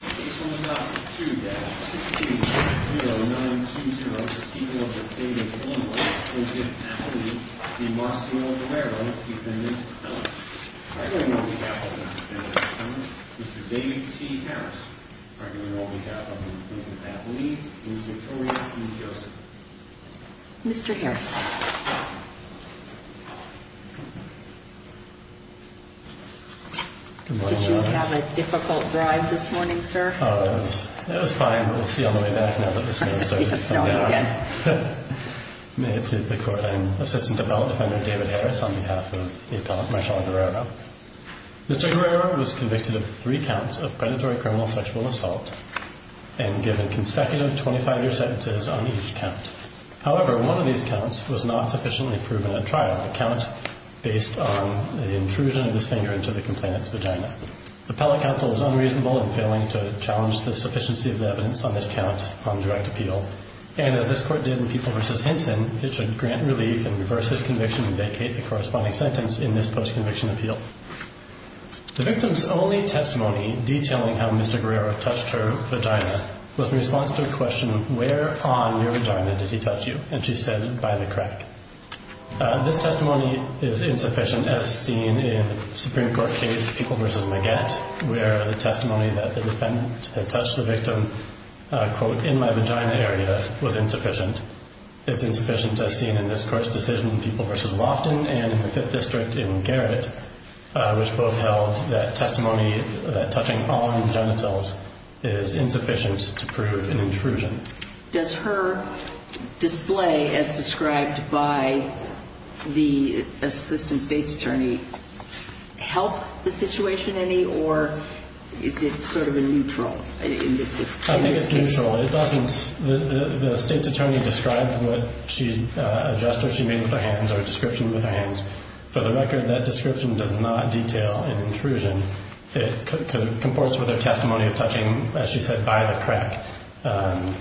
It's only logical, too, that 16-00920, the people of the state of Columbus, will give faculty the Marcio Guerrero defendant, Ellis. Arguing on behalf of the defendant's family, Mr. Dave T. Harris. Arguing on behalf of the defendant's faculty, Ms. Victoria E. Joseph. Mr. Harris. Did you have a difficult drive this morning, sir? Oh, it was fine. We'll see on the way back now that the snow has started to come down. May it please the Court, I am Assistant Appellant Defendant David Harris on behalf of the appellant, Marcio Guerrero. Mr. Guerrero was convicted of three counts of predatory criminal sexual assault, and given consecutive 25-year sentences on each count. However, one of these counts was not sufficiently proven at trial. A count based on the intrusion of his finger into the complainant's vagina. Appellate counsel is unreasonable in failing to challenge the sufficiency of the evidence on this count on direct appeal. And as this Court did in People v. Henson, it should grant relief and reverse his conviction and vacate the corresponding sentence in this post-conviction appeal. The victim's only testimony detailing how Mr. Guerrero touched her vagina was in response to a question, where on your vagina did he touch you? And she said, by the crack. This testimony is insufficient as seen in the Supreme Court case, People v. Maggett, where the testimony that the defendant had touched the victim, quote, in my vagina area was insufficient. It's insufficient as seen in this Court's decision in People v. Lofton and in the Fifth District in Garrett, which both held that testimony touching on genitals is insufficient to prove an intrusion. Does her display as described by the Assistant State's Attorney help the situation any, or is it sort of a neutral in this case? I think it's neutral. It doesn't. The State's Attorney described what she, a gesture she made with her hands or a description with her hands. For the record, that description does not detail an intrusion. It comports with her testimony of touching, as she said, by the crack.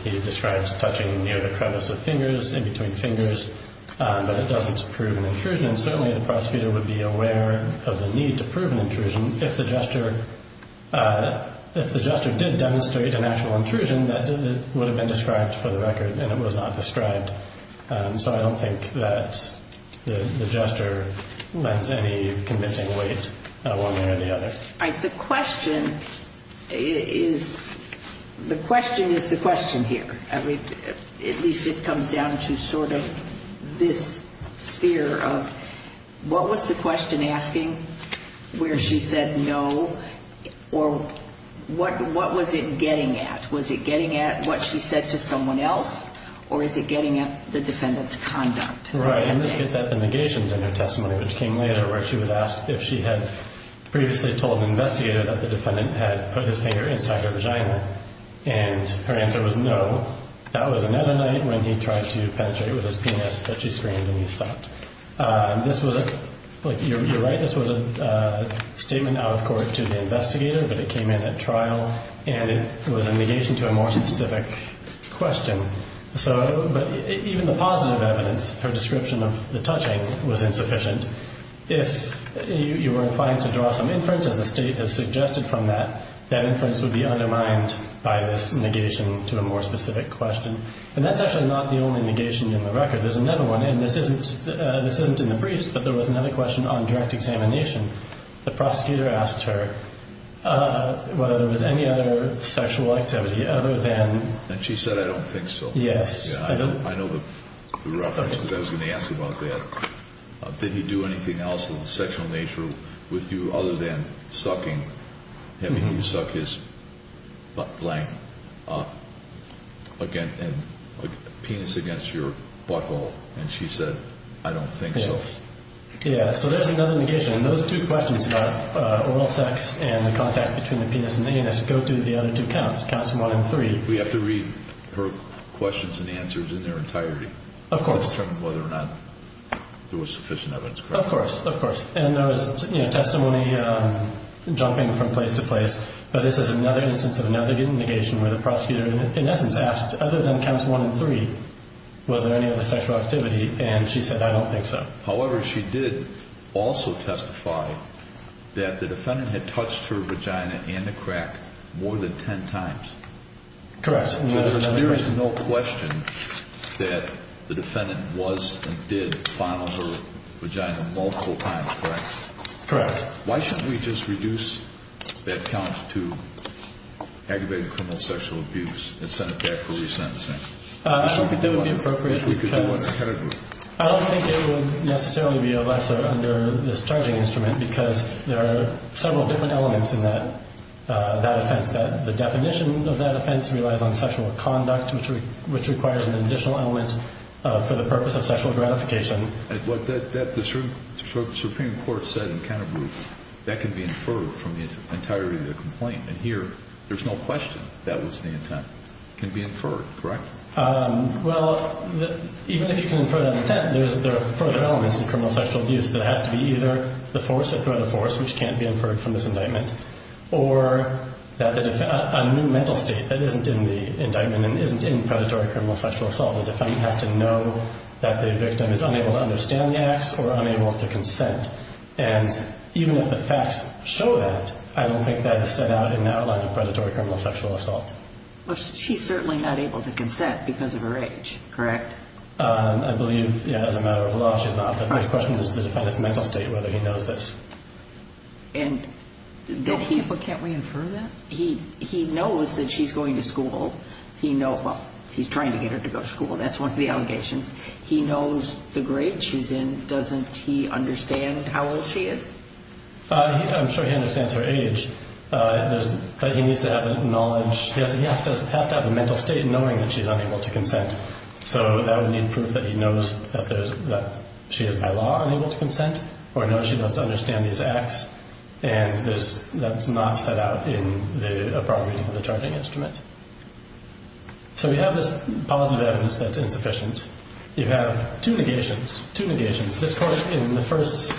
He describes touching near the crevice of fingers, in between fingers, but it doesn't prove an intrusion. Certainly, the prosecutor would be aware of the need to prove an intrusion if the gesture did demonstrate an actual intrusion So I don't think that the gesture lends any convincing weight one way or the other. The question is, the question is the question here. At least it comes down to sort of this sphere of what was the question asking where she said no or what was it getting at? Was it getting at what she said to someone else or is it getting at the defendant's conduct? Right, and this gets at the negations in her testimony, which came later where she was asked if she had previously told an investigator that the defendant had put his finger inside her vagina and her answer was no. That was another night when he tried to penetrate with his penis but she screamed and he stopped. You're right, this was a statement out of court to the investigator but it came in at trial and it was a negation to a more specific question. But even the positive evidence, her description of the touching was insufficient. If you were inclined to draw some inference as the state has suggested from that, that inference would be undermined by this negation to a more specific question. And that's actually not the only negation in the record. There's another one and this isn't in the briefs but there was another question on direct examination. The prosecutor asked her whether there was any other sexual activity other than and she said, I don't think so. I know the reference, because I was going to ask about that. Did he do anything else of a sexual nature with you other than sucking, having him suck his penis against your butthole and she said, I don't think so. Yeah, so there's another negation and those two questions about oral sex and the contact between the penis and the anus go through the other two counts. Counts one and three. We have to read her questions and answers in their entirety to determine whether or not there was sufficient evidence. Of course, of course. And there was testimony jumping from place to place but this is another instance of another negation where the prosecutor in essence asked other than counts one and three was there any other sexual activity and she said, I don't think so. However, she did also testify that the defendant had touched her vagina and the crack more than ten times. Correct. There is no question that the defendant was and did fondle her vagina multiple times, correct? Correct. Why shouldn't we just reduce that count to aggravated criminal sexual abuse and send it back for resentencing? I don't think that would be appropriate because I don't think it would necessarily be a lesser under this charging instrument because there are several different elements in that offense. The definition of that offense relies on sexual conduct which requires an additional element for the purpose of sexual gratification. The Supreme Court said in Canterbury that can be inferred from the entirety of the complaint and here there's no question that was the intent. It can be inferred, correct? Well, even if you can infer that intent there are further elements to criminal sexual abuse that has to be either the force or the threat of force which can't be inferred from this indictment or a new mental state that isn't in the indictment and isn't in predatory criminal sexual assault. The defendant has to know that the victim is unable to understand the acts or unable to consent and even if the facts show that I don't think that is set out in the outline of predatory criminal sexual assault. She's certainly not able to consent because of her age, correct? I believe as a matter of law she's not, but my question is the defendant's mental state whether he knows this. Can't we infer that? He knows that she's going to school well, he's trying to get her to go to school that's one of the allegations. He knows the grade she's in doesn't he understand how old she is? I'm sure he understands her age but he needs to have the knowledge he has to have the mental state knowing that she's unable to consent so that would need proof that he knows that she is by law unable to consent or knows she doesn't understand these acts and that's not set out in the appropriate charging instrument. So we have this positive evidence that's insufficient you have two negations two negations. This court in the first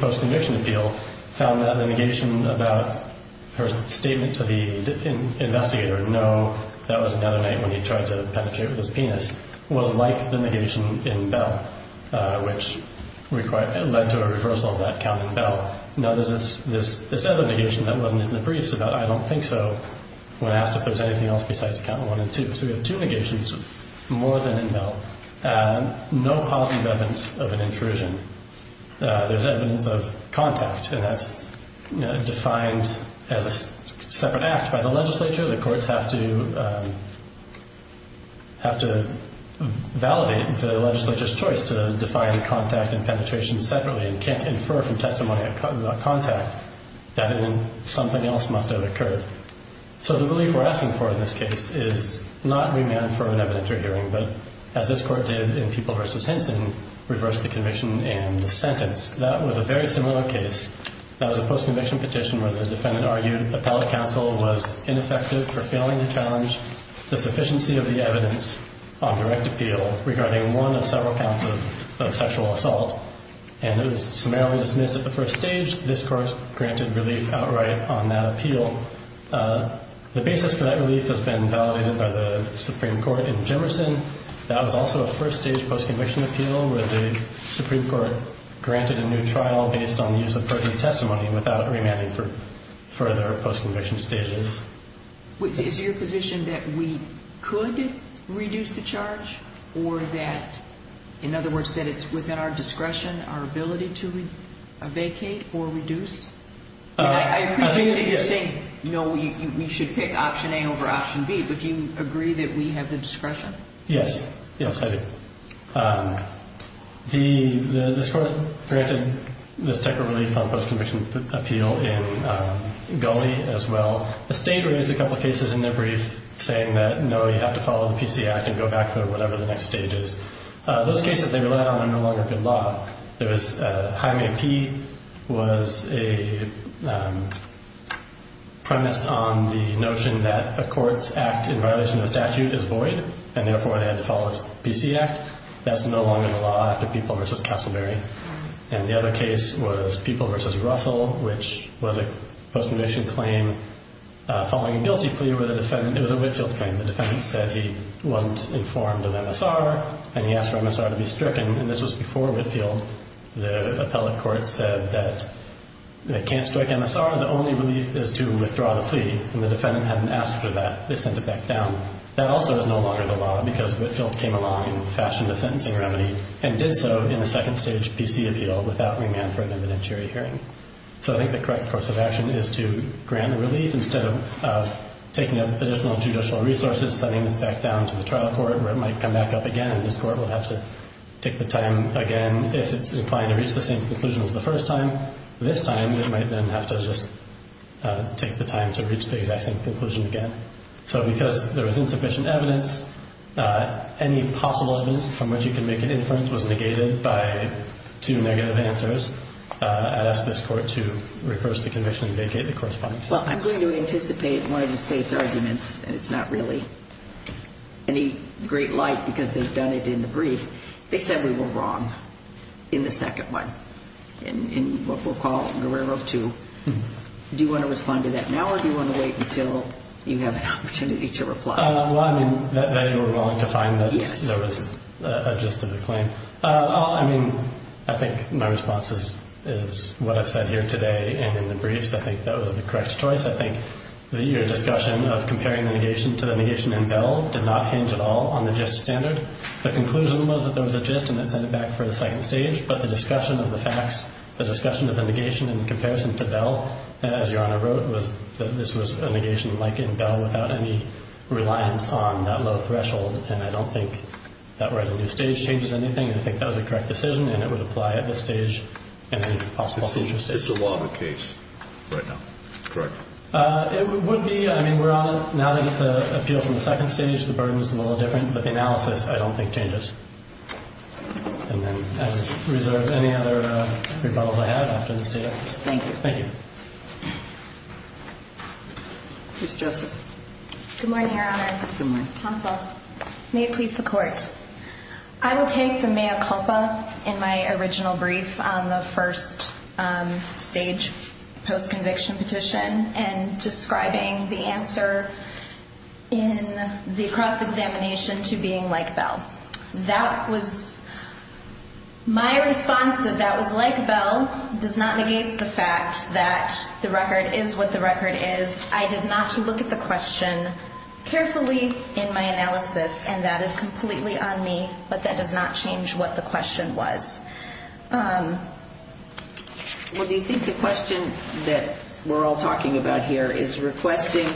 post-conviction appeal found that the negation about her statement to the investigator, no that was another night when he tried to penetrate with his penis, was like the negation in Bell which led to a reversal of that count in Bell. This other negation that wasn't in the briefs about I don't think so when asked if there's anything else besides count 1 and 2 so we have two negations more than in Bell and no positive evidence of an intrusion there's evidence of contact and that's defined as a separate act by the legislature, the courts have to have to validate the legislature's choice to define contact and penetration separately and can't infer from testimony a contact that something else must have occurred so the belief we're asking for in this case is not remand for an evidentiary hearing but as this court did in Pupil v. Henson reversed the conviction and the sentence that was a very similar case that was a post-conviction petition where the defendant argued appellate counsel was ineffective for failing to challenge the sufficiency of the evidence on direct appeal regarding one of several counts of sexual assault and it was summarily dismissed at the first stage, this court granted relief outright on that appeal the basis for that relief has been validated by the Supreme Court in Jimerson, that was also a first stage post-conviction appeal where the Supreme Court granted a new trial based on the use of perjury testimony without remanding for further post-conviction stages is it your position that we could reduce the charge or that in other words that it's within our discretion our ability to vacate or reduce I appreciate that you're saying we should pick option A over option B but do you agree that we have the discretion yes, yes I do this court granted this technical relief on post-conviction appeal in Gulley as well, the state raised a couple cases in their brief saying that no you have to follow the PC Act and go back to whatever the next stage is those cases they relied on are no longer good law there was Hyman P was a premised on the notion that a court's act in violation of the statute is void and therefore they had to follow the PC Act that's no longer the law after People v. Castleberry and the other case was People v. Russell which was a post-conviction claim following a guilty plea with a defendant it was a Whitfield claim, the defendant said he wasn't informed of MSR and he asked for MSR to be stricken and this was before Whitfield the appellate court said that they can't strike MSR, the only relief is to withdraw the plea and the defendant hadn't asked for that, they sent it back down that also is no longer the law because Whitfield came along and fashioned a sentencing remedy and did so in the second stage PC appeal without remand for an evidentiary hearing so I think the correct course of action is to grant the relief instead of taking up additional judicial resources, sending this back down to the trial court where it might come back up again and this court will have to take the time again if it's inclined to reach the same conclusion as the first time, this time it might then have to just take the time to reach the exact same conclusion again so because there was insufficient evidence, any possible evidence from which you can make an inference was negated by two negative answers, I'd ask this court to reverse the conviction and vacate the corresponding sentence. Well I'm going to anticipate one of the state's arguments, and it's not really any great light because they've done it in the brief they said we were wrong in the second one in what we'll call Guerrero 2 do you want to respond to that now or do you want to wait until you have an opportunity to reply? Well I mean that they were wrong to find that there was a gist of the claim, I mean I think my response is what I've said here today and in the brief so I think that was the correct choice, I think that your discussion of comparing the negation to the negation in Bell did not hinge at all on the gist standard the conclusion was that there was a gist and it sent it back for the second stage, but the discussion of the facts the discussion of the negation in comparison to Bell, as your honor wrote was that this was a negation like in Bell without any reliance on that low threshold, and I don't think that we're at a new stage changes anything and I think that was a correct decision and it would apply at this stage and any possible future stages. It's a law of the case right now, correct? It would be, I mean we're on it, now that it's an appeal from the second stage, the burden is a little different, but the analysis I don't think changes and then as reserved, any other rebuttals I have after this debate? Thank you Thank you Ms. Joseph Good morning, your honor Good morning May it please the court I will take the mea culpa in my original brief on the first stage post-conviction petition and describing the answer in the cross-examination to being like Bell. That was my response that that was like Bell does not negate the fact that the record is what the record is I did not look at the question carefully in my analysis and that is completely on me, but that does not change what the question was Well, do you think the question that we're all talking about here is requesting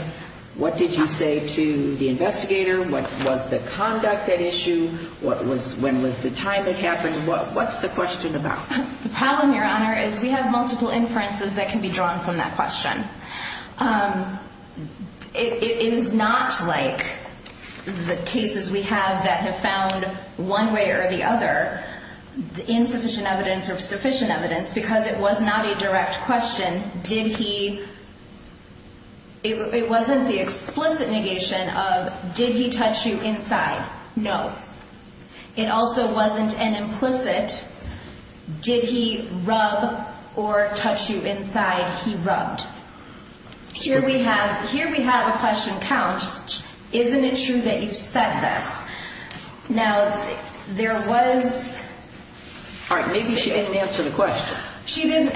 what did you say to the investigator? What was the conduct at issue? What was, when was the time it happened? What's the question about? The problem, your honor is we have multiple inferences that can be drawn from that question It is not like the cases we have that have found one way or the other insufficient evidence or sufficient evidence because it was not a direct question. Did he it wasn't the explicit negation of did he touch you inside? No. It also wasn't an implicit did he rub or touch you inside? He rubbed. Here we have a question couch isn't it true that you said this? Now there was Alright, maybe she didn't answer the question She didn't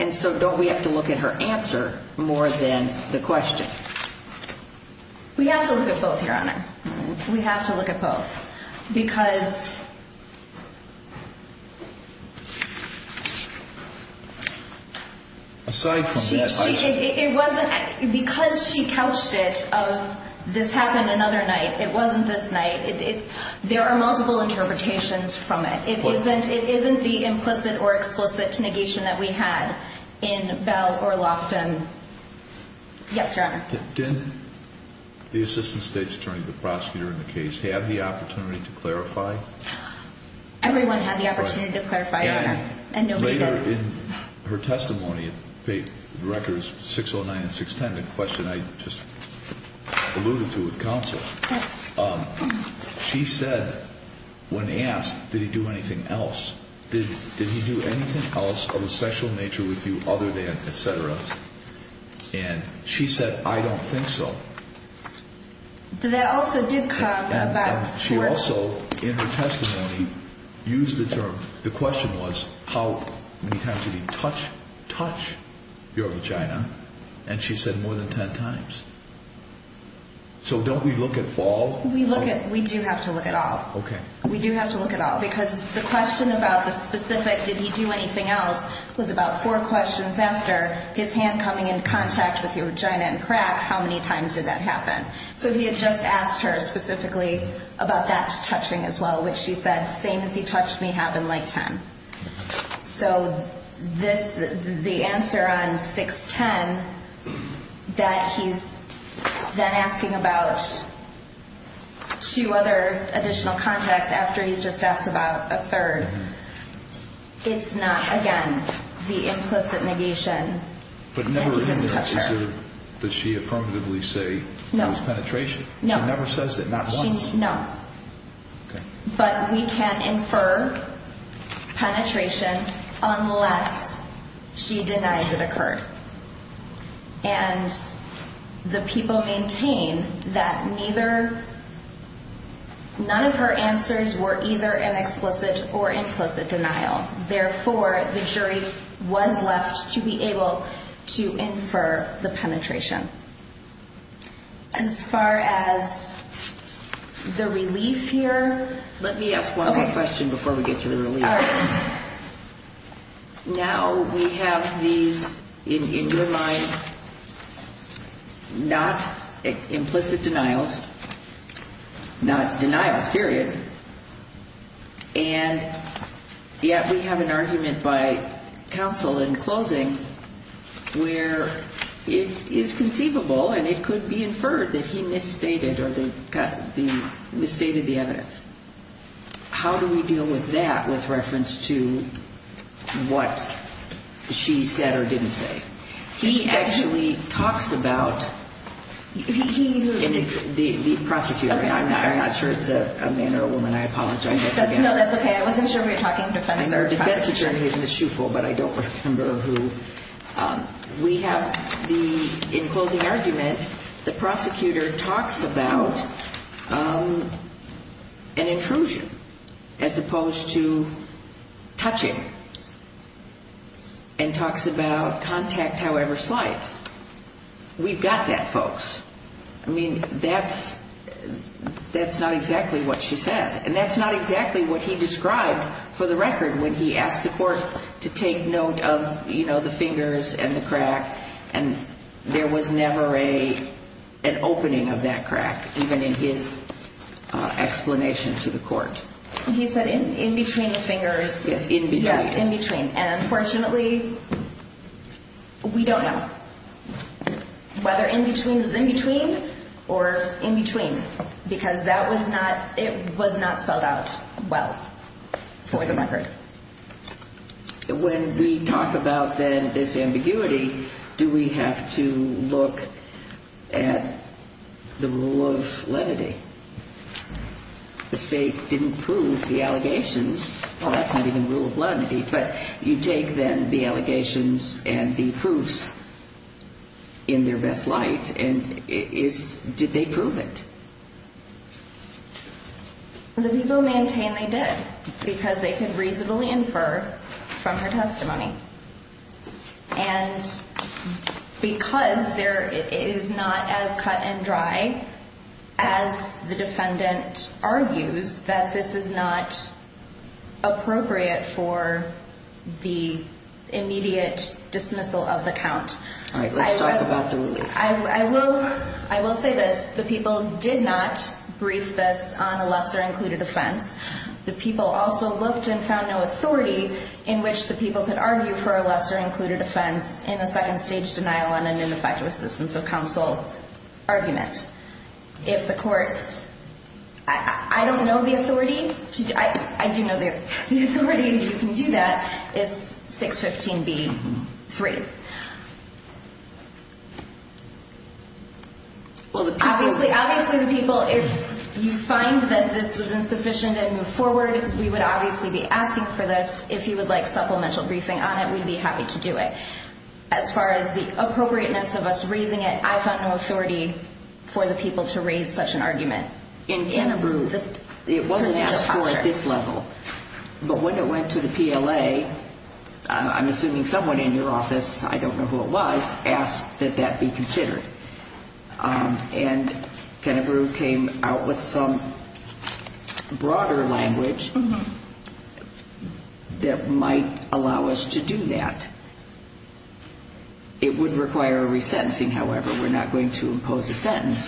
And so don't we have to look at her answer more than the question We have to look at both, your honor. We have to look at both because Aside from that question Because she couched it of this happened another night, it wasn't this night There are multiple interpretations from it. It isn't the implicit or explicit negation that we had in Bell or Loftin Yes, your honor. Did the assistant state attorney, the prosecutor in the case, have the opportunity to clarify? Everyone had the opportunity to clarify, your honor. And later in her testimony the record is 609 and 610, a question I just alluded to with counsel She said when asked did he do anything else? Did he do anything else of a sexual nature with you other than etc? And she said I don't think so That also did come She also in her testimony used the term, the question was how many times did he touch your vagina and she said more than 10 times So don't we look at all? We do have to look at all. We do have to look at all because the question about the specific did he do anything else was about four questions after his hand coming in contact with your vagina and crack, how many times did that happen? So he had just asked her specifically about that touching as well which she said same as he touched me happened like 10 So this the answer on 610 that he's then asking about two other additional contacts after he's just asked about a third it's not again the implicit negation But never in there does she affirmatively say it was penetration? She never says that not once? No But we can't infer penetration unless she denies it occurred and the people maintain that neither none of her answers were either an explicit or implicit denial therefore the jury was left to be able to infer the penetration As far as the relief here let me ask one more question before we get to the relief Now we have these in your mind not implicit denials not denials period and yet we have an argument by counsel in closing where it is conceivable and it could be inferred that he misstated or misstated the evidence How do we deal with that with reference to what she said or didn't say He actually talks about the prosecutor I'm not sure it's a man or a woman I apologize No that's ok I wasn't sure if you were talking about a defense attorney We have in closing argument the prosecutor talks about an intrusion as opposed to touching and talks about contact however slight We've got that folks I mean that's that's not exactly what she said and that's not exactly what he described for the record when he asked the court to take note of the fingers and the crack and there was never a an opening of that crack even in his explanation to the court He said in between the fingers Yes in between and unfortunately we don't know whether in between was in between or in between because that was not spelled out well for the record When we talk about this ambiguity do we have to look at the rule of lenity The state didn't prove the allegations that's not even the rule of lenity but you take then the allegations and the proofs in their best light did they prove it The people maintain they did because they could reasonably infer from her testimony and because there is not as cut and dry as the defendant argues that this is not appropriate for the immediate dismissal of the count I will say this, the people did not brief this on a lesser included offense, the people also looked and found no authority in which the people could argue for a lesser included offense in a second stage denial on an ineffective assistance of counsel argument If the court I don't know the authority I do know the authority you can do that is 615B3 Obviously the people if you find that this was insufficient and move forward we would obviously be asking for this if you would like supplemental briefing on it we would be happy to do it As far as the appropriateness of us raising it I found no authority for the people to raise such an argument In Canterbury It wasn't asked for at this level but when it went to the PLA I'm assuming someone in your office, I don't know who it was asked that that be considered and Canterbury came out with some broader language that might allow us to do that It would require a resentencing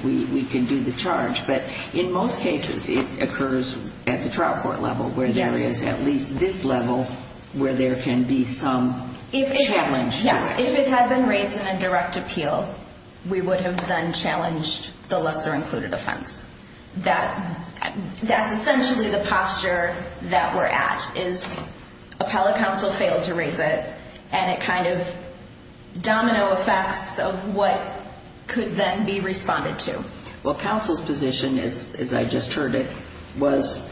we can do the charge but in most cases it occurs at the trial court level where there is at least this level where there can be some challenge to it If it had been raised in a direct appeal we would have then challenged the lesser included offense That's essentially the posture that we're at is appellate counsel failed to raise it and it kind of domino effects of what could then be responded to Well counsel's position as I just heard it was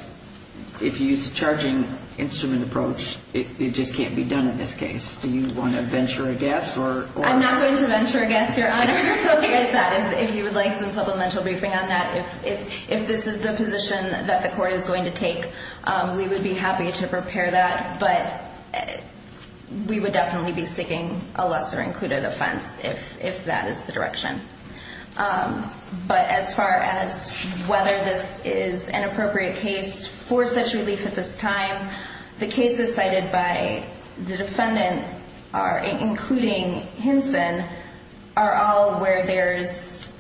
if you use a charging instrument approach it just can't be done in this case Do you want to venture a guess? I'm not going to venture a guess your honor If you would like some supplemental briefing on that If this is the position that the court is going to take we would be happy to prepare that but we would definitely be seeking a lesser included offense if that is the direction But as far as whether this is an appropriate case for such relief at this time the cases cited by the defendant including Hinson are all where there's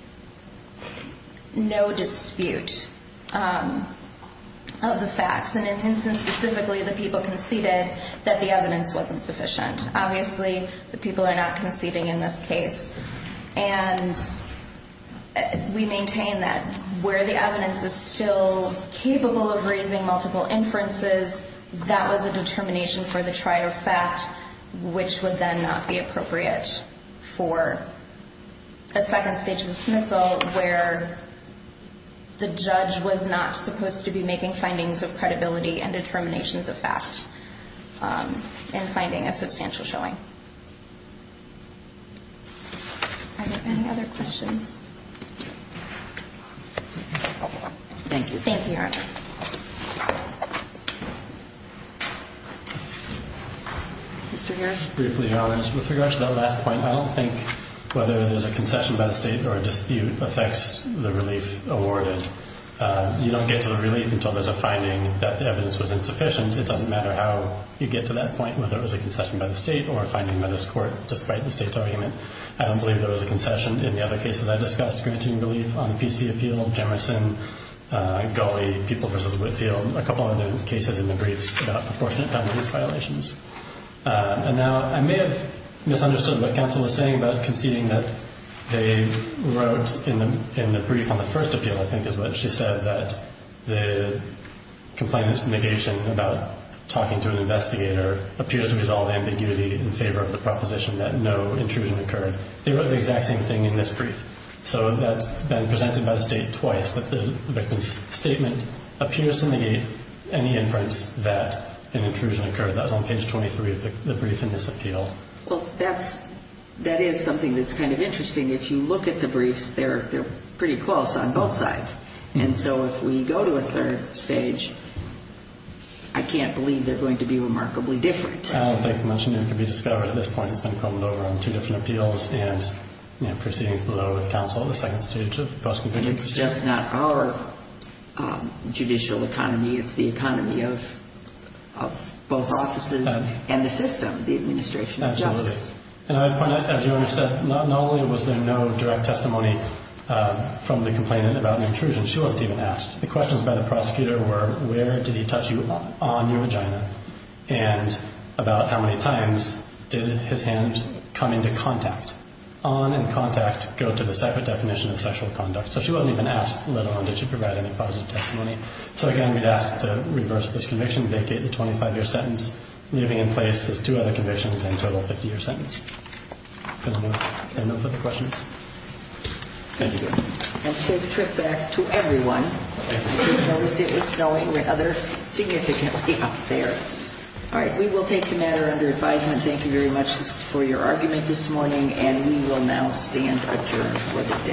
no dispute of the facts and in Hinson specifically the people conceded that the evidence wasn't sufficient Obviously the people are not conceding in this case and we maintain that where the evidence is still capable of raising multiple inferences that was a determination for the trier of fact which would then not be appropriate for a second stage dismissal where the judge was not supposed to be making findings of credibility and determinations of fact in finding a substantial showing Are there any other questions? Thank you. Thank you, Your Honor. Mr. Harris? Briefly, Your Honor, with regard to that last point I don't think whether there's a concession by the state or a dispute affects the relief awarded You don't get to the relief until there's a finding that the evidence was insufficient It doesn't matter how you get to that point whether it was a concession by the state or a finding by this court despite the state's argument I don't believe there was a concession in the other cases I discussed granting relief on the P.C. appeal Jemison, Gulley, People v. Whitfield, a couple other cases in the briefs about proportionate families violations And now I may have misunderstood what counsel was saying about conceding that they wrote in the brief on the first appeal, I think is what she said that the complainant's negation about talking to an investigator appears to resolve ambiguity in favor of the proposition that no intrusion occurred They wrote the exact same thing in this brief So that's been presented by the state twice that the victim's statement appears to negate any inference that an intrusion occurred That was on page 23 of the brief in this appeal Well, that's that is something that's kind of interesting If you look at the briefs, they're pretty close on both sides And so if we go to a third stage I can't believe they're going to be remarkably different I don't think much new can be discovered at this point It's been crumbled over on two different appeals and proceedings below with counsel at the second stage of the post-conviction proceedings It's just not our judicial economy, it's the economy of both offices and the system, the administration of justice And I point out, as you already said, not only was there no direct testimony from the complainant about an intrusion, she wasn't even asked The questions by the prosecutor were where did he touch you on your vagina and about how many times did his hand come into contact On and contact go to the separate definition of sexual conduct, so she wasn't even asked let alone did she provide any positive testimony So again, we'd ask to reverse this conviction, vacate the 25-year sentence leaving in place those two other convictions and a total 50-year sentence And no further questions Thank you And say the trick back to everyone I noticed it was snowing rather significantly up there Alright, we will take the matter under advisement, thank you very much for your argument this morning and we will now stand adjourned for the day